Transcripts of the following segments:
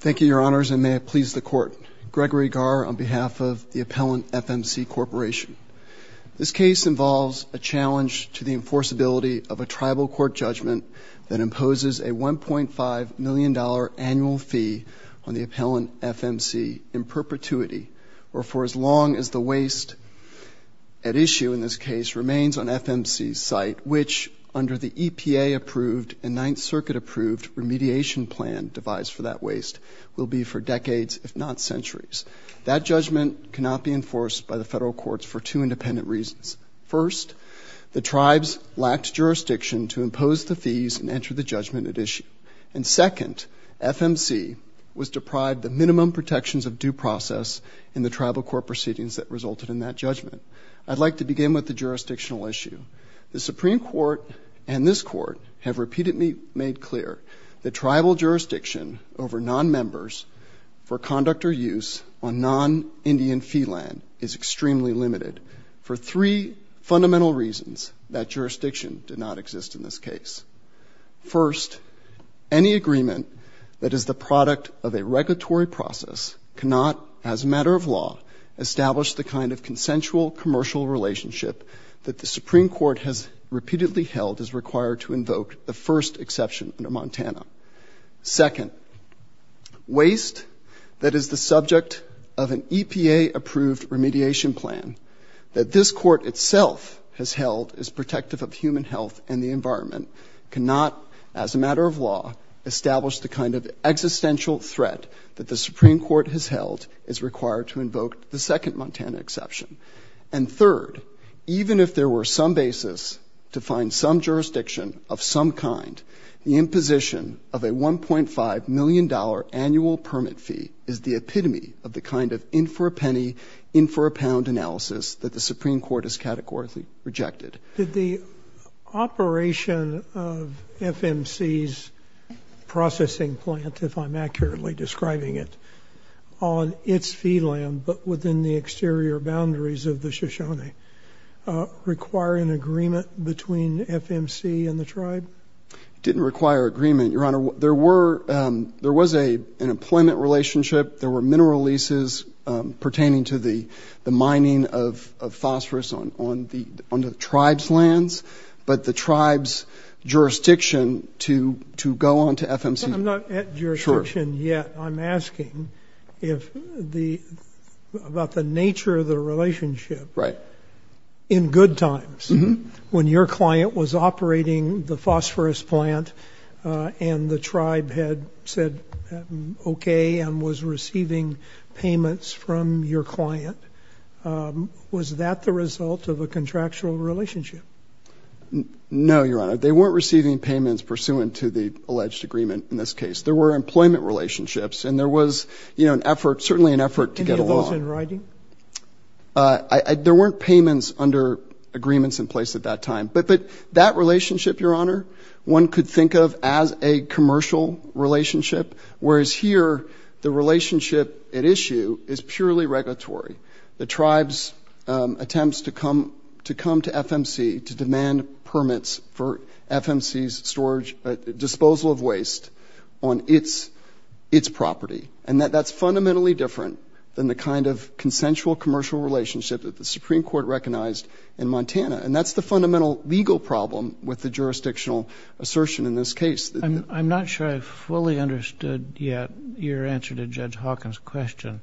Thank you, Your Honors, and may it please the Court. Gregory Garr on behalf of the Appellant FMC Corporation. This case involves a challenge to the enforceability of a tribal court judgment that imposes a $1.5 million annual fee on the Appellant FMC in perpetuity or for as long as the waste at issue in this case remains on FMC's site, but which under the EPA-approved and Ninth Circuit-approved remediation plan devised for that waste will be for decades, if not centuries. That judgment cannot be enforced by the federal courts for two independent reasons. First, the tribes lacked jurisdiction to impose the fees and enter the judgment at issue. And second, FMC was deprived the minimum protections of due process in the tribal court proceedings that resulted in that judgment. I'd like to begin with the jurisdictional issue. The Supreme Court and this Court have repeatedly made clear that tribal jurisdiction over nonmembers for conduct or use on non-Indian fee land is extremely limited for three fundamental reasons that jurisdiction did not exist in this case. First, any agreement that is the product of a regulatory process cannot, as a matter of law, establish the kind of consensual commercial relationship that the Supreme Court has repeatedly held is required to invoke the first exception under Montana. Second, waste that is the subject of an EPA-approved remediation plan that this Court itself has held is protective of human health and the environment cannot, as a matter of law, establish the kind of existential threat that the Supreme Court has held is required to invoke the second Montana exception. And third, even if there were some basis to find some jurisdiction of some kind, the imposition of a $1.5 million annual permit fee is the epitome of the kind of in-for-a-penny, in-for-a-pound analysis that the Supreme Court has categorically rejected. Did the operation of FMC's processing plant, if I'm accurately describing it, on its fee land but within the exterior boundaries of the Shoshone require an agreement between FMC and the tribe? It didn't require agreement, Your Honor. There was an employment relationship. There were mineral leases pertaining to the mining of phosphorus onto the tribe's lands, but the tribe's jurisdiction to go on to FMC. I'm not at jurisdiction yet. I'm asking about the nature of the relationship in good times, when your client was operating the phosphorus plant and the tribe had said okay and was receiving payments from your client. Was that the result of a contractual relationship? No, Your Honor. They weren't receiving payments pursuant to the alleged agreement in this case. There were employment relationships, and there was, you know, an effort, certainly an effort to get along. Any of those in writing? There weren't payments under agreements in place at that time. But that relationship, Your Honor, one could think of as a commercial relationship, whereas here the relationship at issue is purely regulatory. The tribe's attempts to come to FMC to demand permits for FMC's storage, disposal of waste on its property, and that's fundamentally different than the kind of consensual commercial relationship that the Supreme Court recognized in Montana. And that's the fundamental legal problem with the jurisdictional assertion in this case. I'm not sure I fully understood yet your answer to Judge Hawkins' question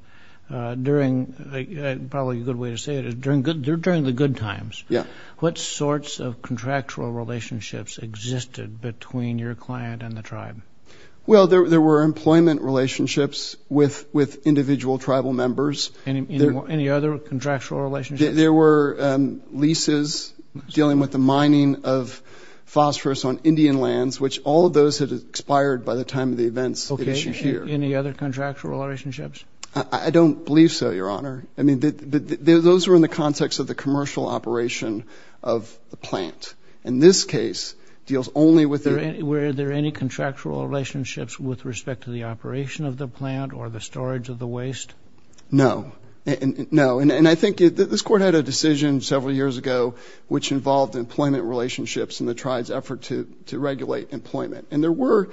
during, probably a good way to say it, during the good times. Yeah. What sorts of contractual relationships existed between your client and the tribe? Well, there were employment relationships with individual tribal members. Any other contractual relationships? There were leases dealing with the mining of phosphorus on Indian lands, which all of those had expired by the time of the events at issue here. Okay. Any other contractual relationships? I don't believe so, Your Honor. I mean, those were in the context of the commercial operation of the plant. In this case, it deals only with their— Were there any contractual relationships with respect to the operation of the plant or the storage of the waste? No. No. And I think this Court had a decision several years ago, which involved employment relationships in the tribe's effort to regulate employment. And there were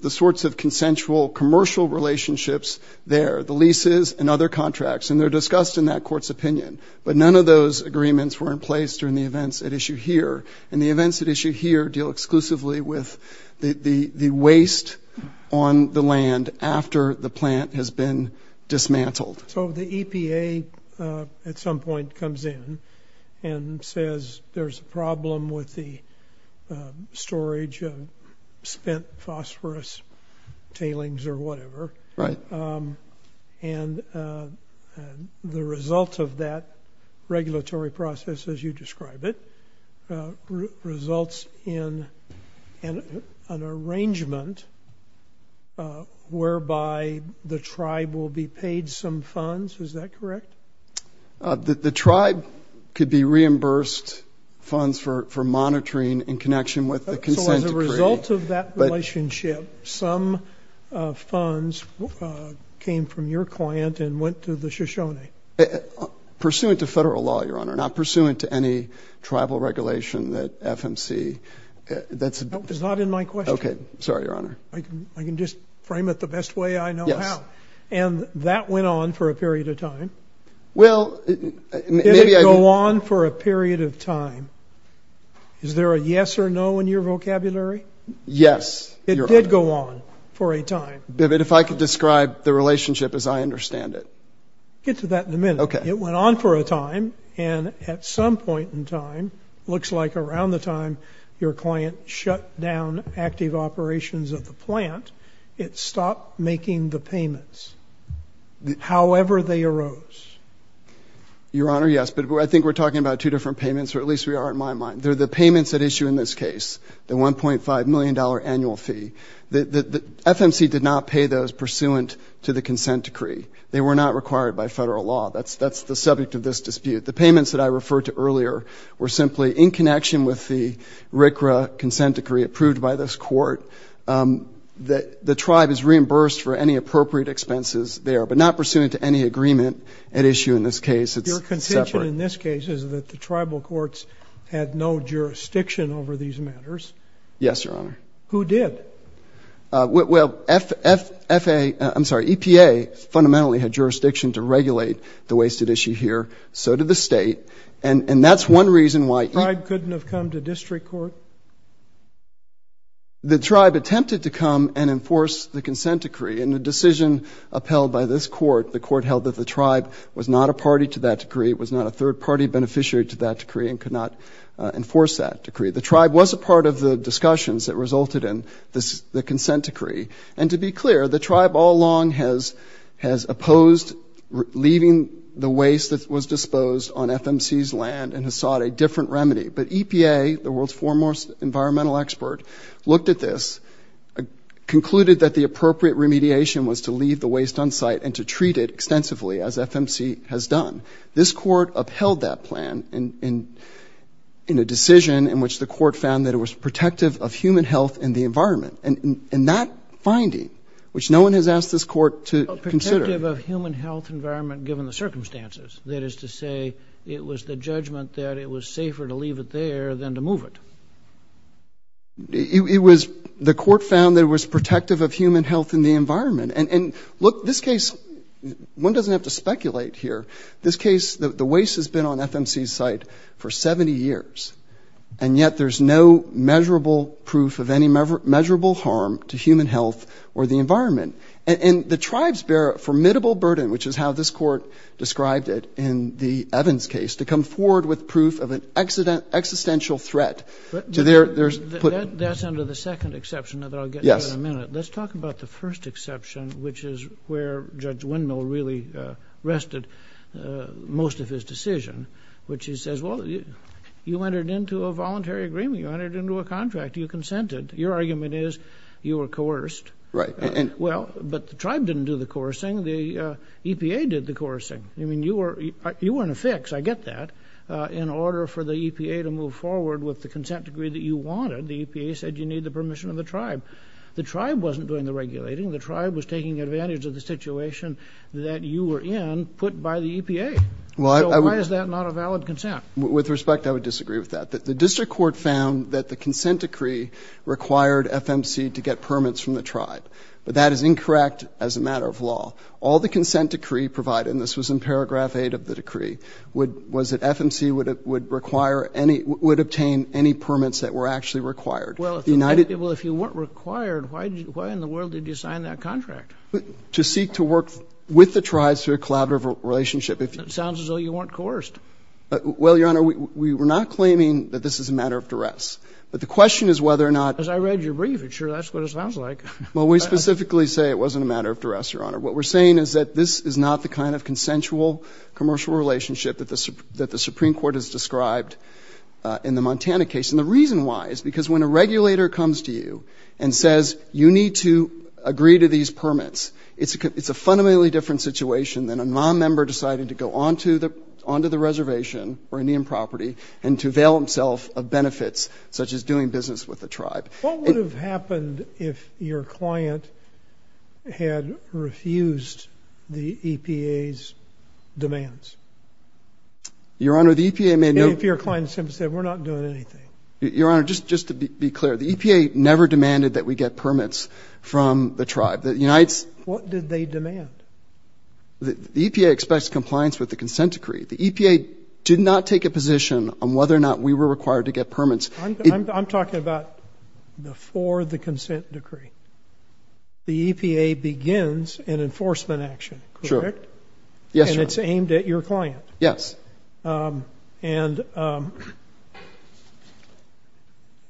the sorts of consensual commercial relationships there, the leases and other contracts, and they're discussed in that Court's opinion. But none of those agreements were in place during the events at issue here. And the events at issue here deal exclusively with the waste on the land after the plant has been dismantled. So the EPA at some point comes in and says there's a problem with the storage of spent phosphorus tailings or whatever. Right. And the result of that regulatory process, as you describe it, results in an arrangement whereby the tribe will be paid some funds. Is that correct? The tribe could be reimbursed funds for monitoring in connection with the consent decree. So as a result of that relationship, some funds came from your plant and went to the Shoshone. Pursuant to federal law, Your Honor, not pursuant to any tribal regulation that FMC ‑‑ That's not in my question. Okay. Sorry, Your Honor. I can just frame it the best way I know how. Yes. And that went on for a period of time. Well, maybe I can ‑‑ Did it go on for a period of time? Is there a yes or no in your vocabulary? Yes. It did go on for a time. But if I could describe the relationship as I understand it. We'll get to that in a minute. Okay. It went on for a time, and at some point in time, looks like around the time your client shut down active operations of the plant, it stopped making the payments, however they arose. Your Honor, yes. But I think we're talking about two different payments, or at least we are in my mind. They're the payments at issue in this case, the $1.5 million annual fee. FMC did not pay those pursuant to the consent decree. They were not required by federal law. That's the subject of this dispute. The payments that I referred to earlier were simply in connection with the RCRA consent decree approved by this court. The tribe is reimbursed for any appropriate expenses there, but not pursuant to any agreement at issue in this case. It's separate. Your contention in this case is that the tribal courts had no jurisdiction over these matters. Yes, Your Honor. Who did? Well, EPA fundamentally had jurisdiction to regulate the wasted issue here. So did the state. And that's one reason why EPA. The tribe couldn't have come to district court? The tribe attempted to come and enforce the consent decree. In the decision upheld by this court, the court held that the tribe was not a party to that decree, was not a third-party beneficiary to that decree, and could not enforce that decree. The tribe was a part of the discussions that resulted in the consent decree. And to be clear, the tribe all along has opposed leaving the waste that was disposed on FMC's land and has sought a different remedy. But EPA, the world's foremost environmental expert, looked at this, concluded that the appropriate remediation was to leave the waste on site and to treat it extensively, as FMC has done. This court upheld that plan in a decision in which the court found that it was protective of human health and the environment. And that finding, which no one has asked this court to consider. Protective of human health and environment given the circumstances. That is to say, it was the judgment that it was safer to leave it there than to move it. It was the court found that it was protective of human health and the environment. And look, this case, one doesn't have to speculate here. This case, the waste has been on FMC's site for 70 years, and yet there's no measurable proof of any measurable harm to human health or the environment. And the tribes bear a formidable burden, which is how this court described it in the Evans case, to come forward with proof of an existential threat. That's under the second exception that I'll get to in a minute. Let's talk about the first exception, which is where Judge Wendell really rested most of his decision, which he says, well, you entered into a voluntary agreement. You entered into a contract. You consented. Your argument is you were coerced. Right. Well, but the tribe didn't do the coercing. The EPA did the coercing. I mean, you weren't a fix. I get that. In order for the EPA to move forward with the consent decree that you wanted, the EPA said you need the permission of the tribe. The tribe wasn't doing the regulating. The tribe was taking advantage of the situation that you were in put by the EPA. So why is that not a valid consent? With respect, I would disagree with that. The district court found that the consent decree required FMC to get permits from the tribe. But that is incorrect as a matter of law. All the consent decree provided, and this was in paragraph 8 of the decree, was that FMC would require any ‑‑ would obtain any permits that were actually required. Well, if you weren't required, why in the world did you sign that contract? To seek to work with the tribes through a collaborative relationship. It sounds as though you weren't coerced. Well, Your Honor, we were not claiming that this is a matter of duress. But the question is whether or not ‑‑ Because I read your brief. I'm sure that's what it sounds like. Well, we specifically say it wasn't a matter of duress, Your Honor. What we're saying is that this is not the kind of consensual commercial relationship that the Supreme Court has described in the Montana case. And the reason why is because when a regulator comes to you and says you need to agree to these permits, it's a fundamentally different situation than a nonmember deciding to go onto the reservation or Indian property and to avail himself of benefits such as doing business with the tribe. What would have happened if your client had refused the EPA's demands? Your Honor, the EPA made no ‑‑ Your Honor, just to be clear, the EPA never demanded that we get permits from the tribe. What did they demand? The EPA expects compliance with the consent decree. The EPA did not take a position on whether or not we were required to get permits. I'm talking about before the consent decree. The EPA begins an enforcement action, correct? Sure. And it's aimed at your client? Yes.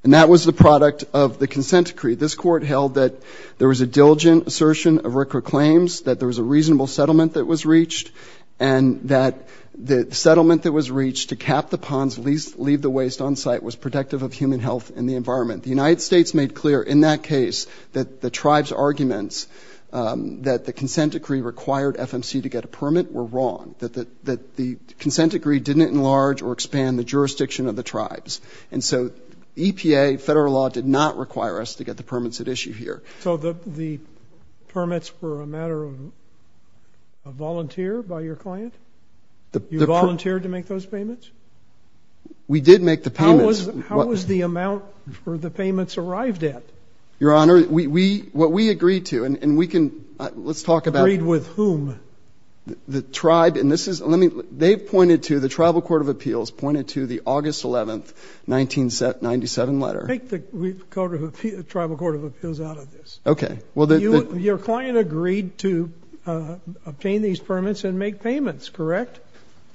And that was the product of the consent decree. This Court held that there was a diligent assertion of RCRA claims, that there was a reasonable settlement that was reached, and that the settlement that was reached to cap the ponds, leave the waste on site was protective of human health and the environment. The United States made clear in that case that the tribe's arguments that the consent decree required FMC to get a permit were wrong, that the consent decree didn't enlarge or expand the jurisdiction of the tribes. And so EPA, federal law, did not require us to get the permits at issue here. So the permits were a matter of volunteer by your client? You volunteered to make those payments? We did make the payments. How was the amount for the payments arrived at? Your Honor, what we agreed to, and we can ‑‑ let's talk about ‑‑ Agreed with whom? The tribe, and this is ‑‑ they pointed to, the Tribal Court of Appeals pointed to the August 11, 1997 letter. Take the Tribal Court of Appeals out of this. Okay. Your client agreed to obtain these permits and make payments, correct?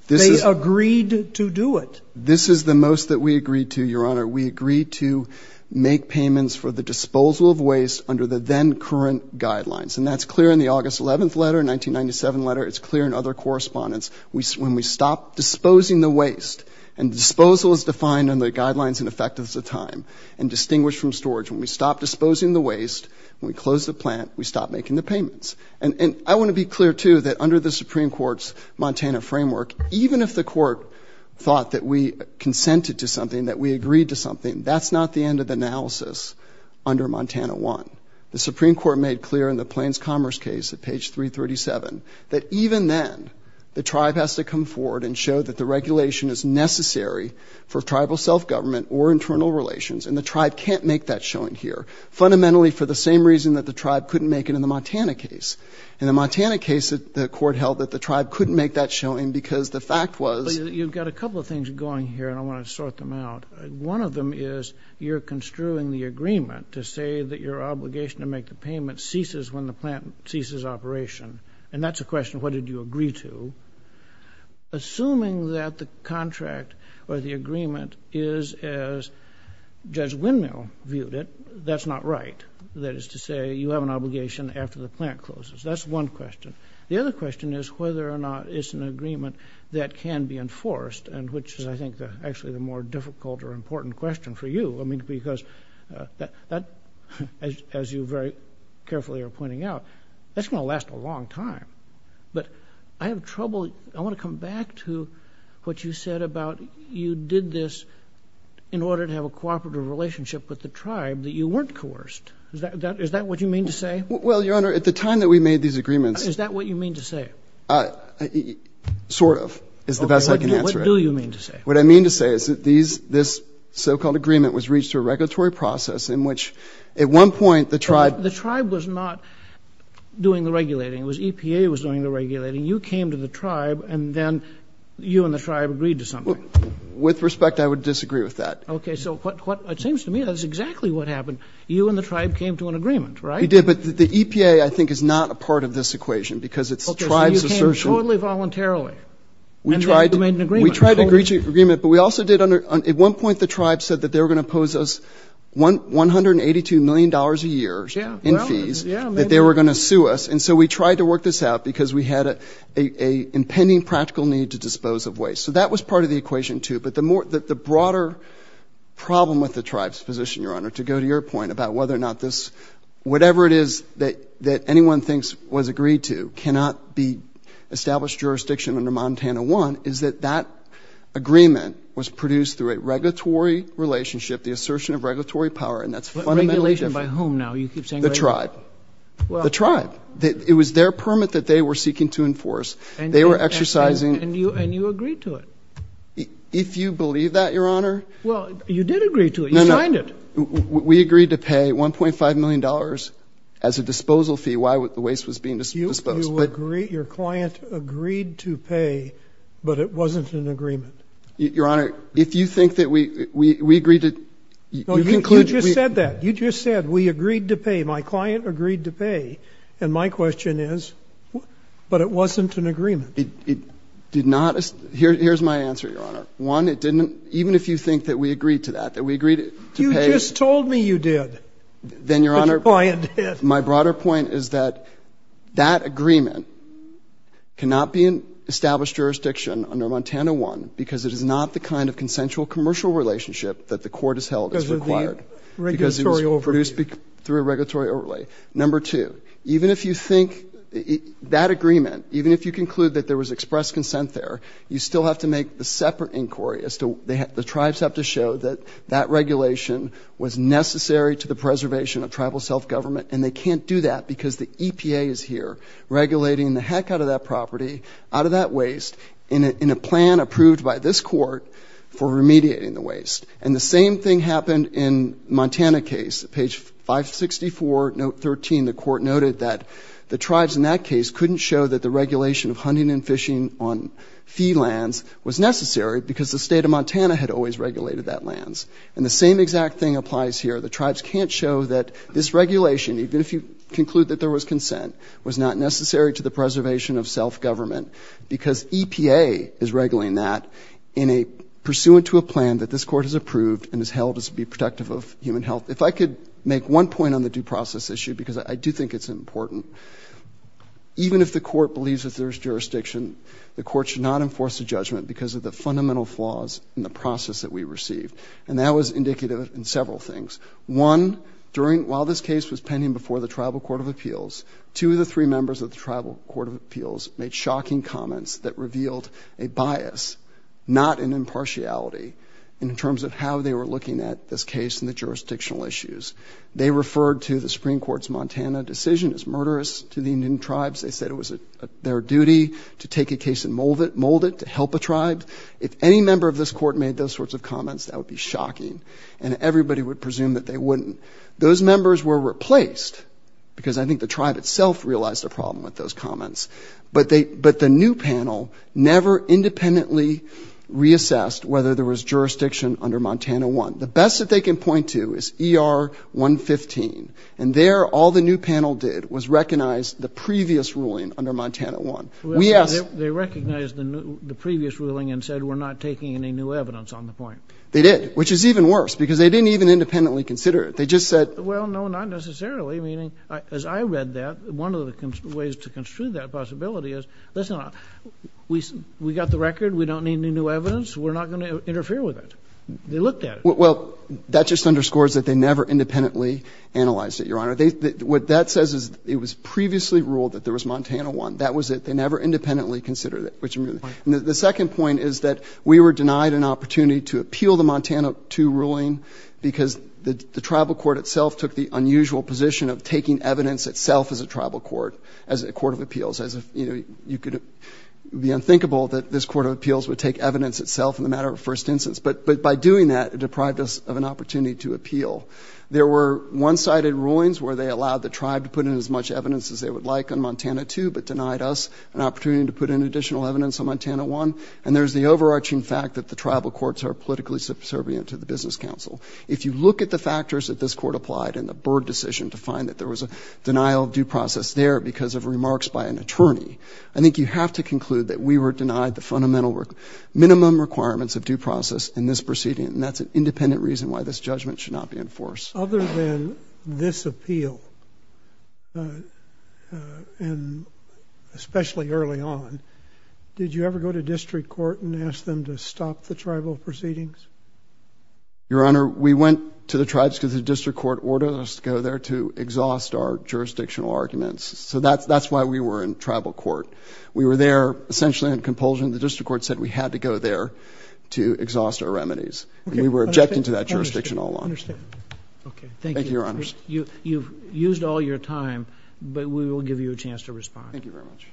They agreed to do it. This is the most that we agreed to, Your Honor. We agreed to make payments for the disposal of waste under the then current guidelines. And that's clear in the August 11 letter, 1997 letter. It's clear in other correspondence. When we stopped disposing the waste, and disposal is defined in the guidelines and effectiveness of time, and distinguished from storage. When we stopped disposing the waste, when we closed the plant, we stopped making the payments. And I want to be clear, too, that under the Supreme Court's Montana framework, even if the court thought that we consented to something, that we agreed to something, that's not the end of the analysis under Montana I. The Supreme Court made clear in the Plains Commerce case at page 337 that even then the tribe has to come forward and show that the regulation is necessary for tribal self-government or internal relations, and the tribe can't make that showing here, fundamentally for the same reason that the tribe couldn't make it in the Montana case. In the Montana case, the court held that the tribe couldn't make that showing because the fact was you've got a couple of things going here, and I want to sort them out. One of them is you're construing the agreement to say that your obligation to make the payment ceases when the plant ceases operation, and that's a question of what did you agree to. Assuming that the contract or the agreement is as Judge Windmill viewed it, that's not right. That is to say you have an obligation after the plant closes. That's one question. The other question is whether or not it's an agreement that can be enforced, and which is, I think, actually the more difficult or important question for you. I mean, because that, as you very carefully are pointing out, that's going to last a long time. But I have trouble. I want to come back to what you said about you did this in order to have a cooperative relationship with the tribe that you weren't coerced. Is that what you mean to say? Well, Your Honor, at the time that we made these agreements. Sort of is the best I can answer it. What do you mean to say? What I mean to say is that this so-called agreement was reached through a regulatory process in which at one point the tribe. The tribe was not doing the regulating. It was EPA was doing the regulating. You came to the tribe, and then you and the tribe agreed to something. With respect, I would disagree with that. Okay. So it seems to me that's exactly what happened. You and the tribe came to an agreement, right? We did. But the EPA, I think, is not a part of this equation because it's tribe's assertion. Okay. So you came totally voluntarily. And then you made an agreement. We tried to reach an agreement, but we also did under — at one point the tribe said that they were going to impose us $182 million a year in fees that they were going to sue us. And so we tried to work this out because we had an impending practical need to dispose of waste. So that was part of the equation, too. But the broader problem with the tribe's position, Your Honor, to go to your point about whether or not this — whatever it is that anyone thinks was agreed to cannot be established jurisdiction under Montana I, is that that agreement was produced through a regulatory relationship, the assertion of regulatory power, and that's fundamentally different. Regulation by whom now? You keep saying — The tribe. The tribe. It was their permit that they were seeking to enforce. They were exercising — And you agreed to it. If you believe that, Your Honor — Well, you did agree to it. You signed it. No, no. We agreed to pay $1.5 million as a disposal fee while the waste was being disposed. Your client agreed to pay, but it wasn't an agreement. Your Honor, if you think that we agreed to — No, you just said that. You just said we agreed to pay. My client agreed to pay. And my question is, but it wasn't an agreement. It did not — here's my answer, Your Honor. One, it didn't — even if you think that we agreed to that, that we agreed to pay — You just told me you did. Then, Your Honor — But your client did. My broader point is that that agreement cannot be in established jurisdiction under Montana I because it is not the kind of consensual commercial relationship that the court has held as required. Because of the regulatory overlay. Because it was produced through a regulatory overlay. Number two, even if you think that agreement, even if you conclude that there was expressed consent there, you still have to make the separate inquiry as to — the tribes have to show that that regulation was necessary to the preservation of tribal self-government, and they can't do that because the EPA is here regulating the heck out of that property, out of that waste, in a plan approved by this court for remediating the waste. And the same thing happened in Montana case. Page 564, note 13, the court noted that the tribes in that case couldn't show that the regulation of hunting and fishing on fee lands was necessary because the state of Montana had always regulated that lands. And the same exact thing applies here. The tribes can't show that this regulation, even if you conclude that there was consent, was not necessary to the preservation of self-government because EPA is regulating that in a — pursuant to a plan that this court has approved and has held as to be protective of human health. If I could make one point on the due process issue, because I do think it's important, even if the court believes that there is jurisdiction, the court should not enforce a judgment because of the fundamental flaws in the process that we received. And that was indicative in several things. One, during — while this case was pending before the Tribal Court of Appeals, two of the three members of the Tribal Court of Appeals made shocking comments that revealed a bias, not an impartiality, in terms of how they were looking at this case and the jurisdictional issues. They referred to the Supreme Court's Montana decision as murderous to the Indian tribes. They said it was their duty to take a case and mold it to help a tribe. If any member of this court made those sorts of comments, that would be shocking. And everybody would presume that they wouldn't. Those members were replaced because I think the tribe itself realized the problem with those comments. But they — but the new panel never independently reassessed whether there was jurisdiction under Montana 1. The best that they can point to is ER 115. And there, all the new panel did was recognize the previous ruling under Montana 1. We asked — They recognized the previous ruling and said we're not taking any new evidence on the point. They did, which is even worse, because they didn't even independently consider it. They just said — Well, no, not necessarily. Meaning, as I read that, one of the ways to construe that possibility is, listen, we got the record, we don't need any new evidence, we're not going to interfere with it. They looked at it. Well, that just underscores that they never independently analyzed it, Your Honor. What that says is it was previously ruled that there was Montana 1. That was it. They never independently considered it. The second point is that we were denied an opportunity to appeal the Montana 2 ruling because the tribal court itself took the unusual position of taking evidence itself as a tribal court, as a court of appeals, as if, you know, you could be unthinkable that this court of appeals would take evidence itself in the matter of first instance. But by doing that, it deprived us of an opportunity to appeal. There were one-sided rulings where they allowed the tribe to put in as much evidence as they would like on Montana 2, but denied us an opportunity to put in additional evidence on Montana 1. And there's the overarching fact that the tribal courts are politically subservient to the business council. If you look at the factors that this court applied in the Byrd decision to find that there was a denial of due process there because of remarks by an attorney, I think you have to conclude that we were denied the fundamental minimum requirements of due process in this proceeding, and that's an independent reason why this judgment should not be enforced. Other than this appeal, and especially early on, did you ever go to district court and ask them to stop the tribal proceedings? Your Honor, we went to the tribes because the district court ordered us to go there to exhaust our jurisdictional arguments. So that's why we were in tribal court. We were there essentially in compulsion. The district court said we had to go there to exhaust our remedies. We were objecting to that jurisdiction all along. I understand. Thank you, Your Honor. You've used all your time, but we will give you a chance to respond. Thank you very much.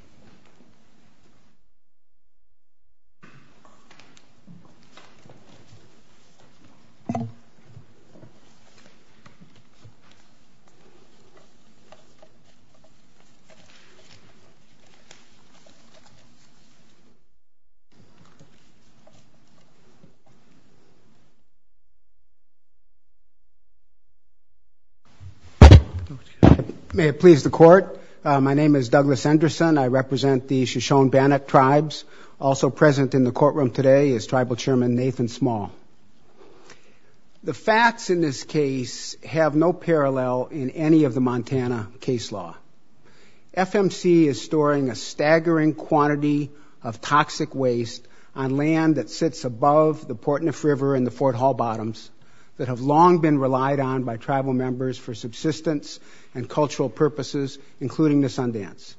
May it please the Court. My name is Douglas Anderson. I represent the Shoshone-Bannock tribes. Also present in the courtroom today is Tribal Chairman Nathan Small. The facts in this case have no parallel in any of the Montana case law. FMC is storing a staggering quantity of toxic waste on land that sits above the Portneuf River and the Fort Hall Bottoms that have long been relied on by tribal members for subsistence and cultural purposes, including the Sundance.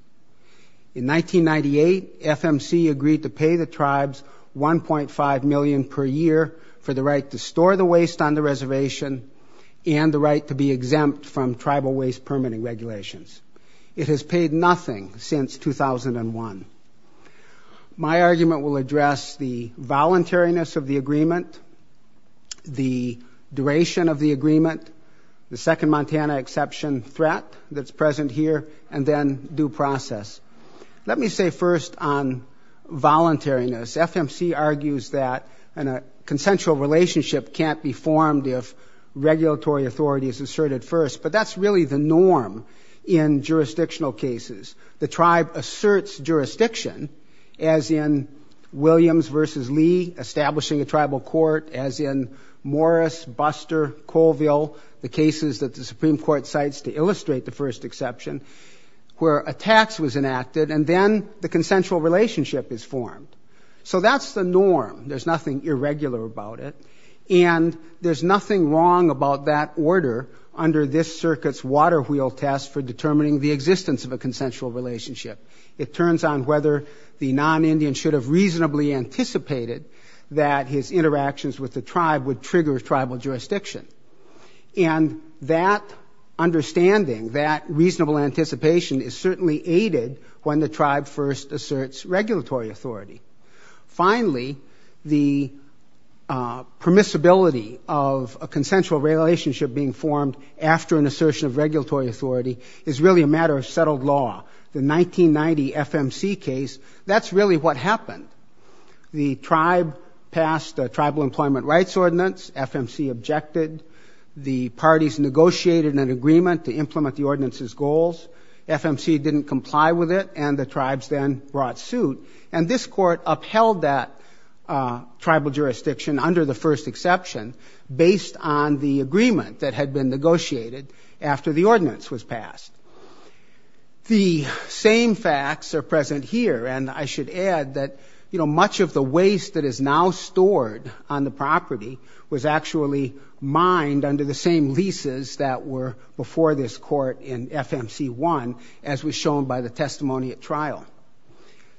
In 1998, FMC agreed to pay the tribes $1.5 million per year for the right to store the waste on the reservation and the right to be exempt from tribal waste permitting regulations. It has paid nothing since 2001. My argument will address the voluntariness of the agreement, the duration of the agreement, the second Montana exception threat that's present here, and then due process. Let me say first on voluntariness. FMC argues that a consensual relationship can't be formed if regulatory authority is asserted first, but that's really the norm in jurisdictional cases. The tribe asserts jurisdiction, as in Williams versus Lee establishing a tribal court, as in Morris, Buster, Colville, the cases that the Supreme Court cites to illustrate the first exception, where a tax was enacted, and then the consensual relationship is formed. So that's the norm. There's nothing irregular about it, and there's nothing wrong about that order under this circuit's water wheel test for determining the existence of a consensual relationship. It turns on whether the non-Indian should have reasonably anticipated that his interactions with the tribe would trigger tribal jurisdiction. And that understanding, that reasonable anticipation, is certainly aided when the tribe first asserts regulatory authority. Finally, the permissibility of a consensual relationship being formed after an assertion of regulatory authority is really a matter of settled law. The 1990 FMC case, that's really what happened. The tribe passed a tribal employment rights ordinance. FMC objected. The parties negotiated an agreement to implement the ordinance's goals. FMC didn't comply with it, and the tribes then brought suit. And this court upheld that tribal jurisdiction under the first exception based on the agreement that had been negotiated after the ordinance was passed. The same facts are present here. And I should add that, you know, much of the waste that is now stored on the property was actually mined under the same leases that were before this court in FMC1, as was shown by the testimony at trial.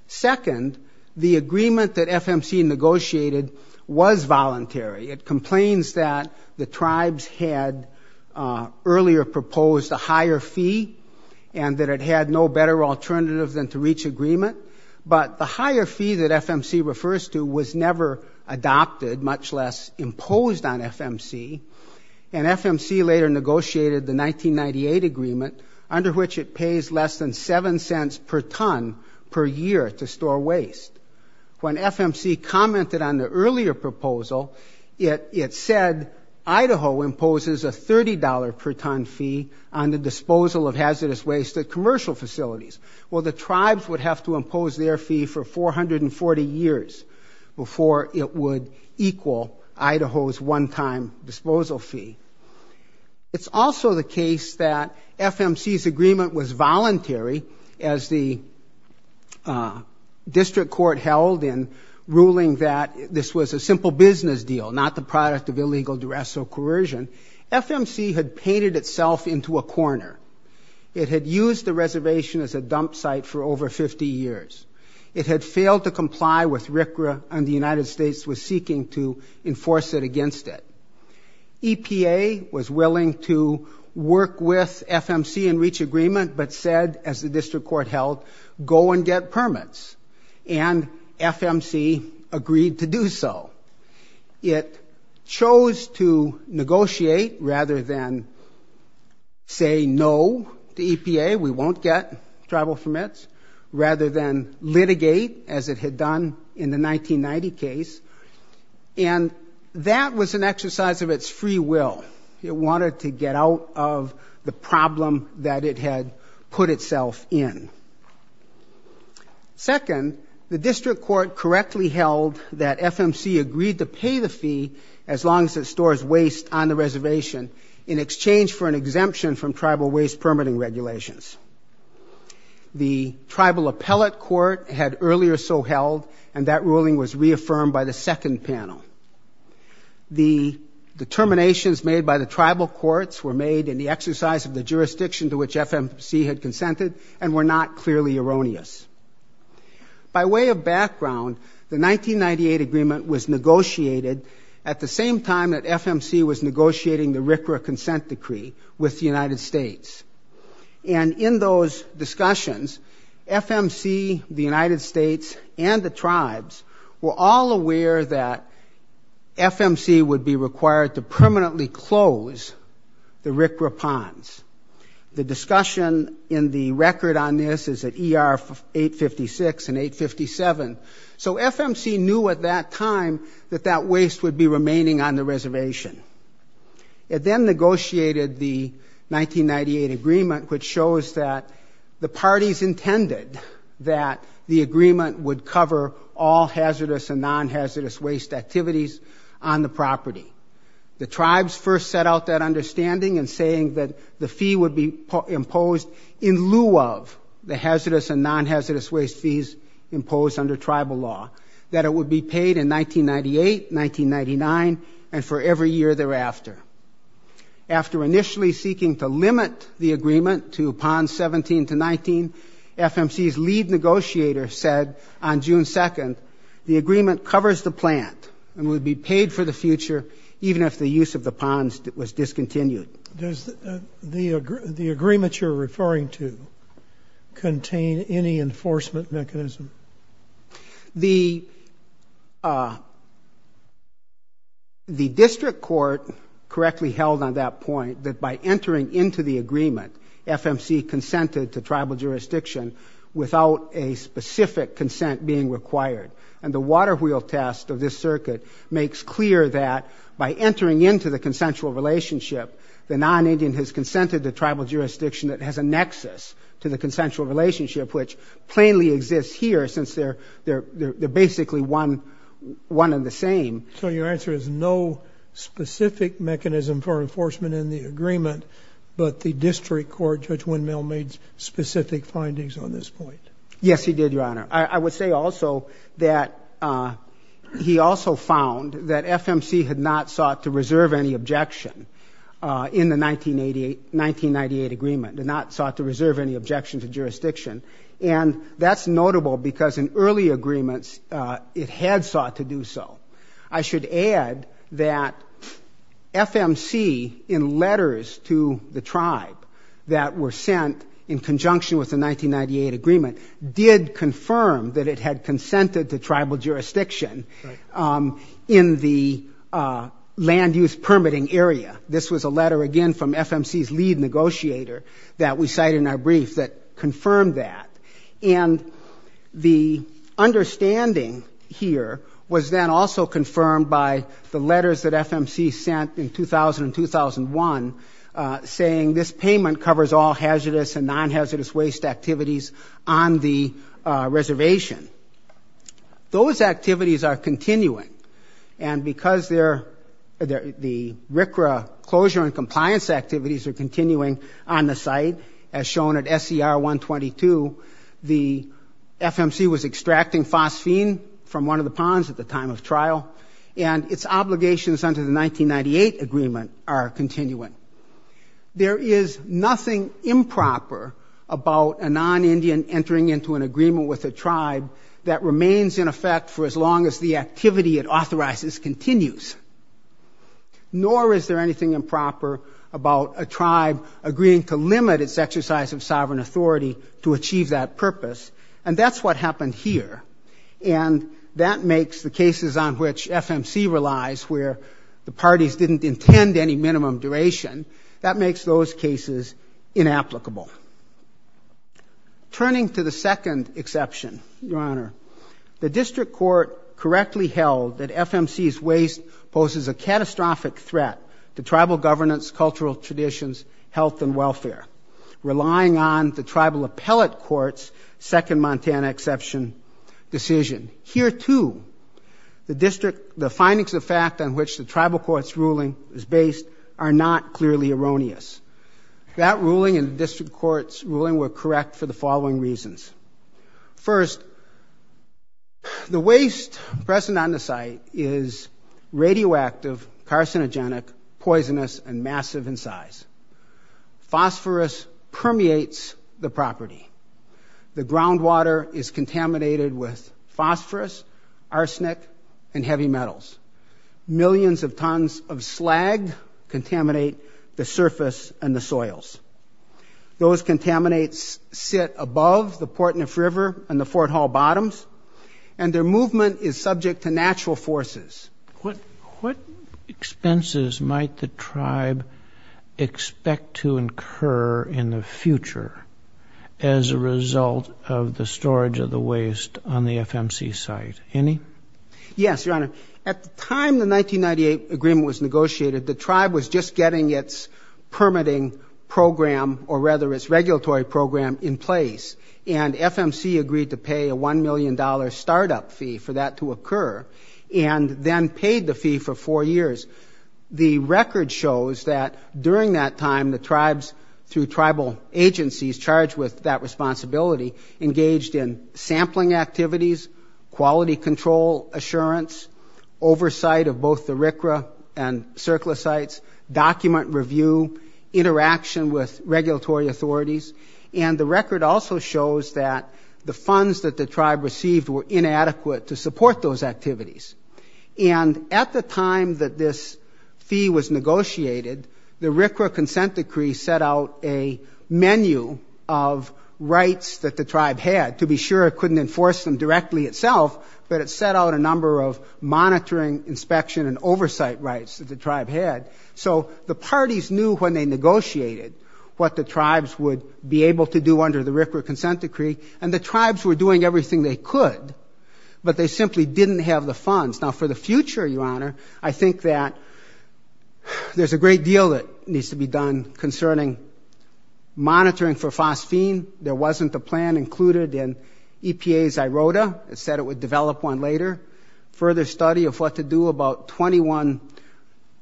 Second, the agreement that FMC negotiated was voluntary. It complains that the tribes had earlier proposed a higher fee and that it had no better alternative than to reach agreement, but the higher fee that FMC refers to was never adopted, much less imposed on FMC. And FMC later negotiated the 1998 agreement, under which it pays less than seven cents per ton per year to store waste. When FMC commented on the earlier proposal, it said Idaho imposes a $30 per ton fee on the disposal of hazardous waste at commercial facilities. Well, the tribes would have to impose their fee for 440 years before it would equal Idaho's one-time disposal fee. It's also the case that FMC's agreement was voluntary, as the district court held in ruling that this was a simple business deal, not the product of illegal duress or coercion. FMC had painted itself into a corner. It had used the reservation as a dump site for over 50 years. It had failed to comply with RCRA, and the United States was seeking to enforce it against it. EPA was willing to work with FMC and reach agreement, but said, as the district court held, go and get permits. And FMC agreed to do so. It chose to negotiate rather than say no to EPA, we won't get travel permits, rather than litigate, as it had done in the 1990 case. And that was an exercise of its free will. It wanted to get out of the problem that it had put itself in. Second, the district court correctly held that FMC agreed to pay the fee as long as it stores waste on the reservation, in exchange for an exemption from tribal waste permitting regulations. The tribal appellate court had earlier so held, and that ruling was reaffirmed by the second panel. The determinations made by the tribal courts were made in the exercise of the jurisdiction to which FMC had consented, and were not clearly erroneous. By way of background, the 1998 agreement was negotiated at the same time that FMC was negotiating the RCRA consent decree with the United States. And in those discussions, FMC, the United States, and the tribes were all aware that FMC would be required to permanently close the RCRA ponds. The discussion in the record on this is at ER 856 and 857. So FMC knew at that time that that waste would be remaining on the reservation. It then negotiated the 1998 agreement, which shows that the parties intended that the agreement would cover all hazardous and non-hazardous waste activities on the property. The tribes first set out that understanding in saying that the fee would be imposed in lieu of the hazardous and non-hazardous waste fees imposed under tribal law, that it would be paid in 1998, 1999, and for every year thereafter. After initially seeking to limit the agreement to ponds 17 to 19, FMC's lead negotiator said on June 2nd, the agreement covers the plant and would be paid for the future even if the use of the ponds was discontinued. Does the agreement you're referring to contain any enforcement mechanism? The district court correctly held on that point that by entering into the agreement, FMC consented to tribal jurisdiction without a specific consent being required. And the waterwheel test of this circuit makes clear that by entering into the consensual relationship, the non-Indian has consented to tribal jurisdiction that has a nexus to the consensual relationship, which plainly exists here since they're basically one and the same. So your answer is no specific mechanism for enforcement in the agreement, but the district court, Judge Windmill, made specific findings on this point. Yes, he did, Your Honor. I would say also that he also found that FMC had not sought to reserve any objection in the 1998 agreement, did not sought to reserve any objection to jurisdiction. And that's notable because in early agreements, it had sought to do so. I should add that FMC, in letters to the tribe that were sent in conjunction with the 1998 agreement, did confirm that it had consented to tribal jurisdiction in the land use permitting area. This was a letter, again, from FMC's lead negotiator that we cite in our brief that confirmed that. And the understanding here was then also confirmed by the letters that FMC sent in 2000 and 2001, saying this payment covers all hazardous and non-hazardous waste activities on the reservation. Those activities are continuing. Closure and compliance activities are continuing on the site, as shown at SCR 122. The FMC was extracting phosphine from one of the ponds at the time of trial, and its obligations under the 1998 agreement are continuing. There is nothing improper about a non-Indian entering into an agreement with a tribe that remains in effect for as long as the activity it authorizes continues. Nor is there anything improper about a tribe agreeing to limit its exercise of sovereign authority to achieve that purpose. And that's what happened here. And that makes the cases on which FMC relies, where the parties didn't intend any minimum duration, that makes those cases inapplicable. Turning to the second exception, Your Honor, the district court correctly held that FMC's waste was not hazardous. It poses a catastrophic threat to tribal governance, cultural traditions, health and welfare, relying on the tribal appellate court's second Montana exception decision. Here, too, the district, the findings of fact on which the tribal court's ruling is based are not clearly erroneous. That ruling and the district court's ruling were correct for the following reasons. First, the waste present on the site is radioactive, carcinogenic, poisonous and massive in size. Phosphorus permeates the property. The groundwater is contaminated with phosphorus, arsenic and heavy metals. Millions of tons of slag contaminate the surface and the soils. Those contaminates sit above the Portneuf River and the Fort Hall bottoms, and their movement is subject to natural forces. What expenses might the tribe expect to incur in the future as a result of the storage of the waste on the FMC site? Any? Yes, Your Honor. At the time the 1998 agreement was negotiated, the tribe was just getting its permitting program, or rather its regulatory program, in place, and FMC agreed to pay a $1 million startup fee for that to occur, and then paid the fee for four years. The record shows that during that time, the tribes, through tribal agencies charged with that responsibility, engaged in sampling activities, quality control assurance, oversight of both the RCRA and CERCLA sites, document review, interaction with regulatory authorities, and the record also shows that the funds that the tribe received were inadequate to support those activities. And at the time that this fee was negotiated, the RCRA consent decree set out a menu of rights that the tribe could use to be sure it couldn't enforce them directly itself, but it set out a number of monitoring, inspection, and oversight rights that the tribe had, so the parties knew when they negotiated what the tribes would be able to do under the RCRA consent decree, and the tribes were doing everything they could, but they simply didn't have the funds. Now, for the future, Your Honor, I think that there's a great deal that needs to be done concerning monitoring for phosphine. There wasn't a plan included in EPA's IRODA that said it would develop one later. Further study of what to do about 21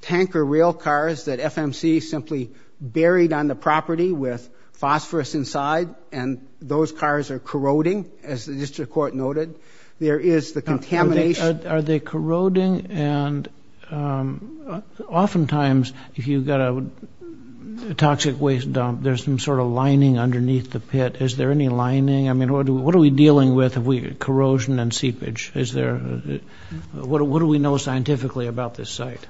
tanker rail cars that FMC simply buried on the property with phosphorus inside, and those cars are corroding, as the district court noted. There is the contamination... Pat, is there any lining? I mean, what are we dealing with, corrosion and seepage? What do we know scientifically about this site?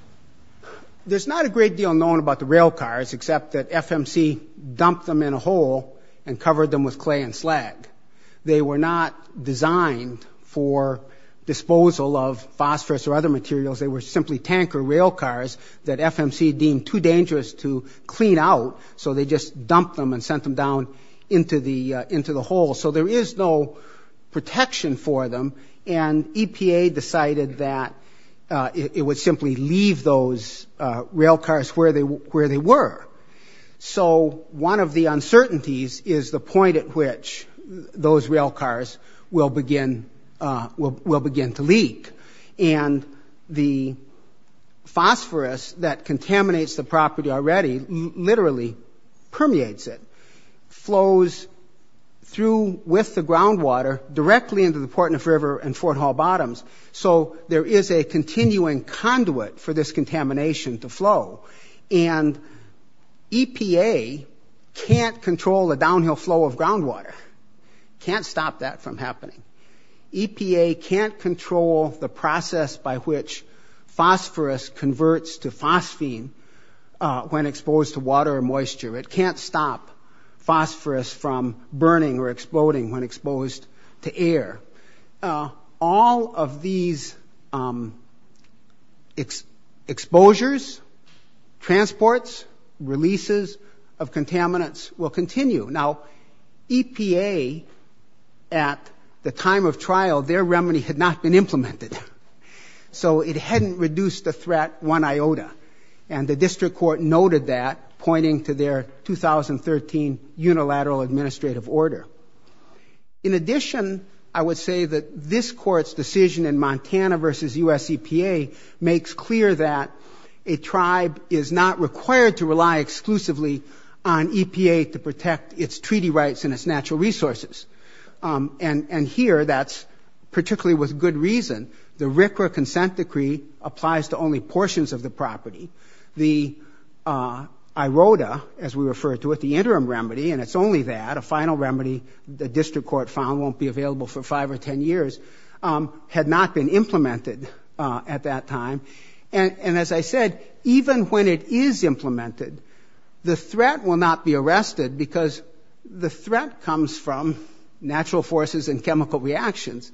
There's not a great deal known about the rail cars, except that FMC dumped them in a hole and covered them with clay and slag. They were not designed for disposal of phosphorus or other materials. They were simply tanker rail cars that FMC deemed too dangerous to clean out, so they just dumped them and sent them down into the hole. So there is no protection for them, and EPA decided that it would simply leave those rail cars where they were. So one of the uncertainties is the point at which those rail cars will begin to leak, and the phosphorus that contaminates the property already, literally, will begin to leak. It permeates it, flows through with the groundwater directly into the Portneuf River and Fort Hall Bottoms, so there is a continuing conduit for this contamination to flow, and EPA can't control the downhill flow of groundwater, can't stop that from happening. EPA can't control the process by which phosphorus converts to phosphine when exposed to water or moisture, it can't stop phosphorus from burning or exploding when exposed to air. All of these exposures, transports, releases of contaminants will continue. Now, EPA, at the time of trial, their remedy had not been implemented, so it hadn't reduced the threat one iota, and the district court noted that, pointing to their 2013 unilateral administrative order. In addition, I would say that this court's decision in Montana v. U.S. EPA makes clear that a tribe is not required to rely exclusively on EPA to protect its treaty rights and its natural resources, and here that's particularly with good reason. The RCRA consent decree applies to only portions of the property. The IRODA, as we refer to it, the interim remedy, and it's only that, a final remedy the district court found won't be available for five or ten years, had not been implemented at that time, and as I said, even when it is implemented, the threat will not be arrested because the threat comes from natural forces and chemical reactions,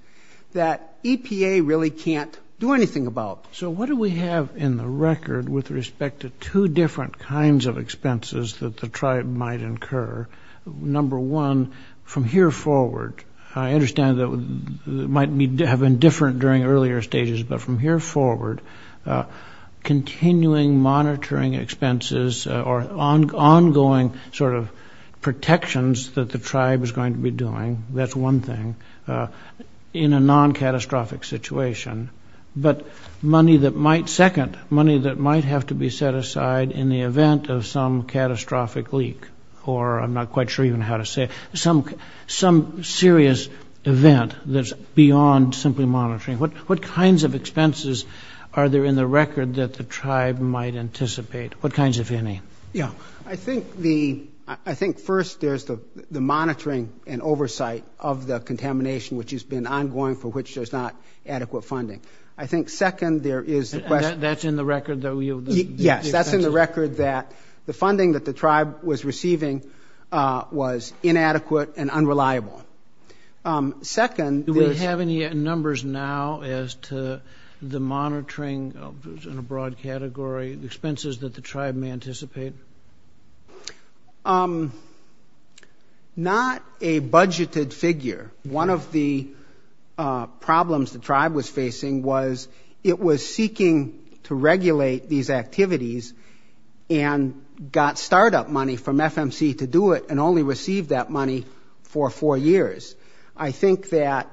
that EPA really can't do anything about. So what do we have in the record with respect to two different kinds of expenses that the tribe might incur? Number one, from here forward, I understand that it might have been different during earlier stages, but from here forward, continuing monitoring expenses or ongoing sort of protections that the tribe is going to be doing, that's one thing. In a non-catastrophic situation, but money that might, second, money that might have to be set aside in the event of some catastrophic leak, or I'm not quite sure even how to say it, some serious event that's beyond simply monitoring. What kinds of expenses are there in the record that the tribe might anticipate? What kinds, if any? I think first there's the monitoring and oversight of the contamination, which has been ongoing, for which there's not adequate funding. That's in the record that we have? Yes, that's in the record that the funding that the tribe was receiving was inadequate and unreliable. Do we have any numbers now as to the monitoring, in a broad category, expenses that the tribe may anticipate? Not a budgeted figure. One of the problems the tribe was facing was it was seeking to regulate these activities and got start-up money from FMC to do it, and only received that money for four years. I think that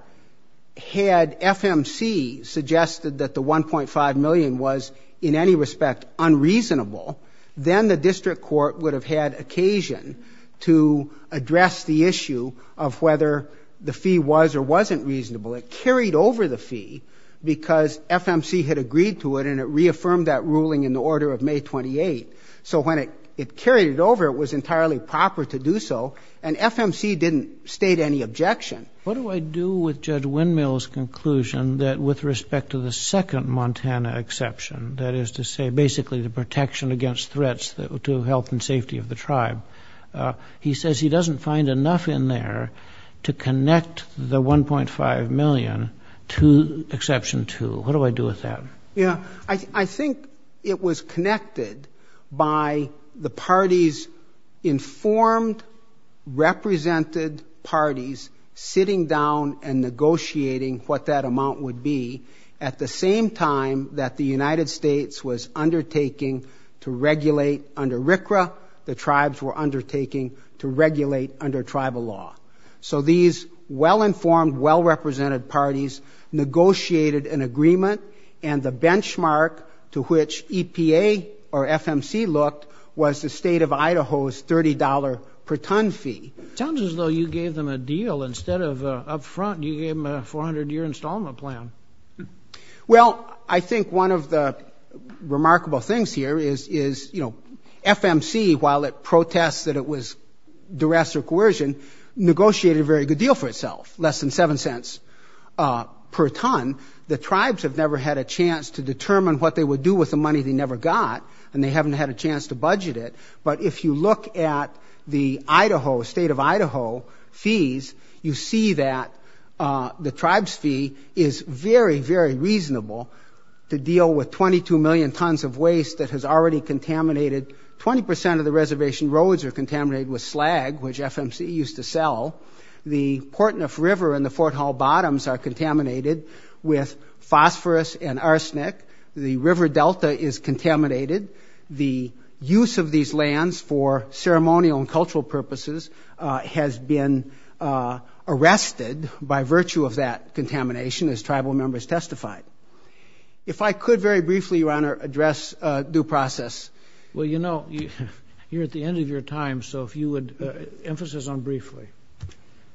had FMC suggested that the $1.5 million was, in any respect, unreasonable, then the district court would have had occasion to address the issue of whether the fee was or wasn't reasonable. It carried over the fee because FMC had agreed to it, and it reaffirmed that ruling in the order of May 28. So when it carried it over, it was entirely proper to do so, and FMC didn't state any objection. What do I do with Judge Windmill's conclusion that with respect to the second Montana exception, that is to say basically the protection against threats to health and safety of the tribe, he says he doesn't find enough in there to connect the $1.5 million to exception two. What do I do with that? Yeah, I think it was connected by the parties' informed, represented parties sitting down and negotiating what that amount would be, at the same time that the United States was undertaking to regulate under RCRA, the tribes were undertaking to regulate under tribal law. So these well-informed, well-represented parties negotiated an agreement, and the benchmark to which EPA or FMC looked was the state of Idaho's $30 per ton fee. Sounds as though you gave them a deal. Remarkable things here is, you know, FMC, while it protests that it was duress or coercion, negotiated a very good deal for itself, less than $0.07 per ton. The tribes have never had a chance to determine what they would do with the money they never got, and they haven't had a chance to budget it, but if you look at the Idaho, state of Idaho fees, you see that the tribe's fee is very, very reasonable to deal with $0.22 per ton. That's 2 million tons of waste that has already contaminated 20 percent of the reservation roads are contaminated with slag, which FMC used to sell. The Portneuf River and the Fort Hall Bottoms are contaminated with phosphorus and arsenic. The River Delta is contaminated. The use of these lands for ceremonial and cultural purposes has been arrested by virtue of that contamination, as tribal members testified. Well, you know, you're at the end of your time, so if you would emphasize on briefly.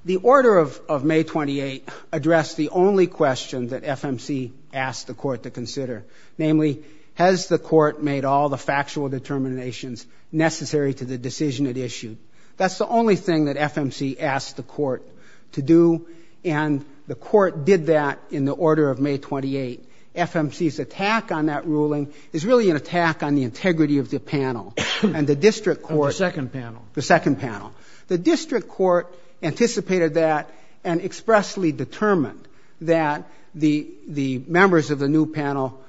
The order of May 28 addressed the only question that FMC asked the court to consider, namely, has the court made all the factual determinations necessary to the decision it issued? That's the only thing that FMC asked the court to do, but in the order of May 28, FMC's attack on that ruling is really an attack on the integrity of the panel and the district court. The district court anticipated that and expressly determined that the members of the new panel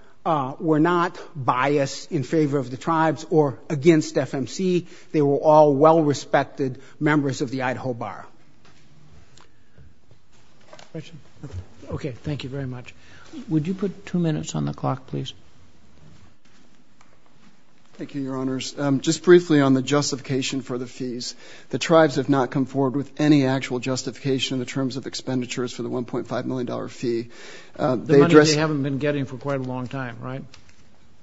were not biased in favor of the tribes or against FMC. They were all well-respected members of the Idaho Bar. Thank you very much. Thank you, Your Honors. Just briefly on the justification for the fees, the tribes have not come forward with any actual justification in terms of expenditures for the $1.5 million fee. The money they haven't been getting for quite a long time, right?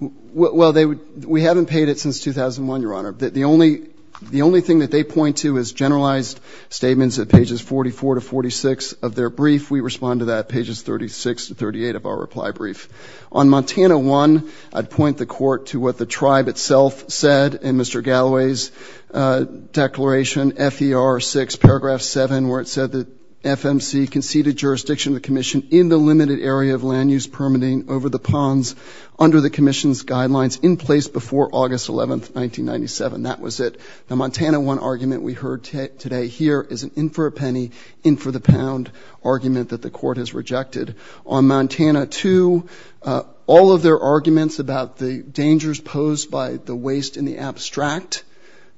Well, we haven't paid it since 2001, Your Honor. The only thing that they point to is generalized statements at pages 44 to 46 of their brief. We respond to that at pages 36 to 38 of our reply brief. On Montana 1, I'd point the court to what the tribe itself said in Mr. Galloway's declaration, FER6, paragraph 7, where it said that FMC conceded jurisdiction to the commission in the limited area of land use permitting over the ponds under the commission's guidelines in place before August 11, 1997. That was it. Now, Montana 1 argument we heard today here is an in-for-a-penny, in-for-the-pound argument that the court has rejected. On Montana 2, all of their arguments about the dangers posed by the waste in the abstract,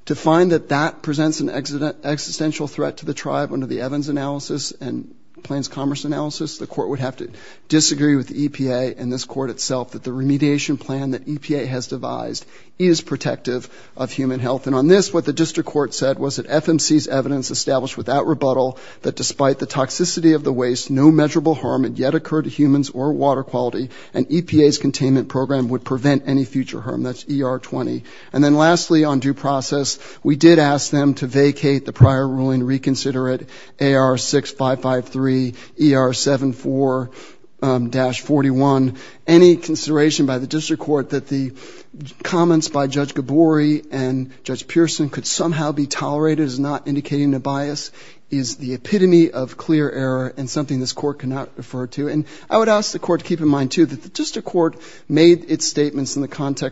to find that that presents an existential threat to the tribe under the Evans analysis and Plains Commerce analysis, the court would have to disagree with the EPA and this court itself that the remediation plan that EPA has devised is protective of human rights. And on this, what the district court said was that FMC's evidence established without rebuttal that despite the toxicity of the waste, no measurable harm had yet occurred to humans or water quality, and EPA's containment program would prevent any future harm. That's ER20. And then lastly, on due process, we did ask them to vacate the prior ruling, reconsider it, AR6553, ER74-41. And we did ask the court to reverse the judgment below, find that this extraordinary judgment imposing on the district court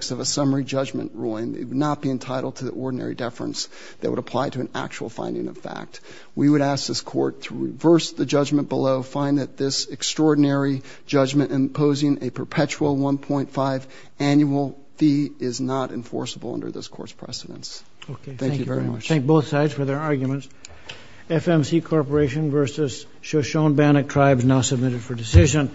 is not a summary judgment ruling, it would not be entitled to the ordinary deference that would apply to an actual finding of fact. And finally, we did ask the court to reverse the judgment below, find that this extraordinary judgment imposing on the district court is not a summary judgment ruling, it would not be entitled to the ordinary deference that would apply to an actual finding of fact. Thank you very much.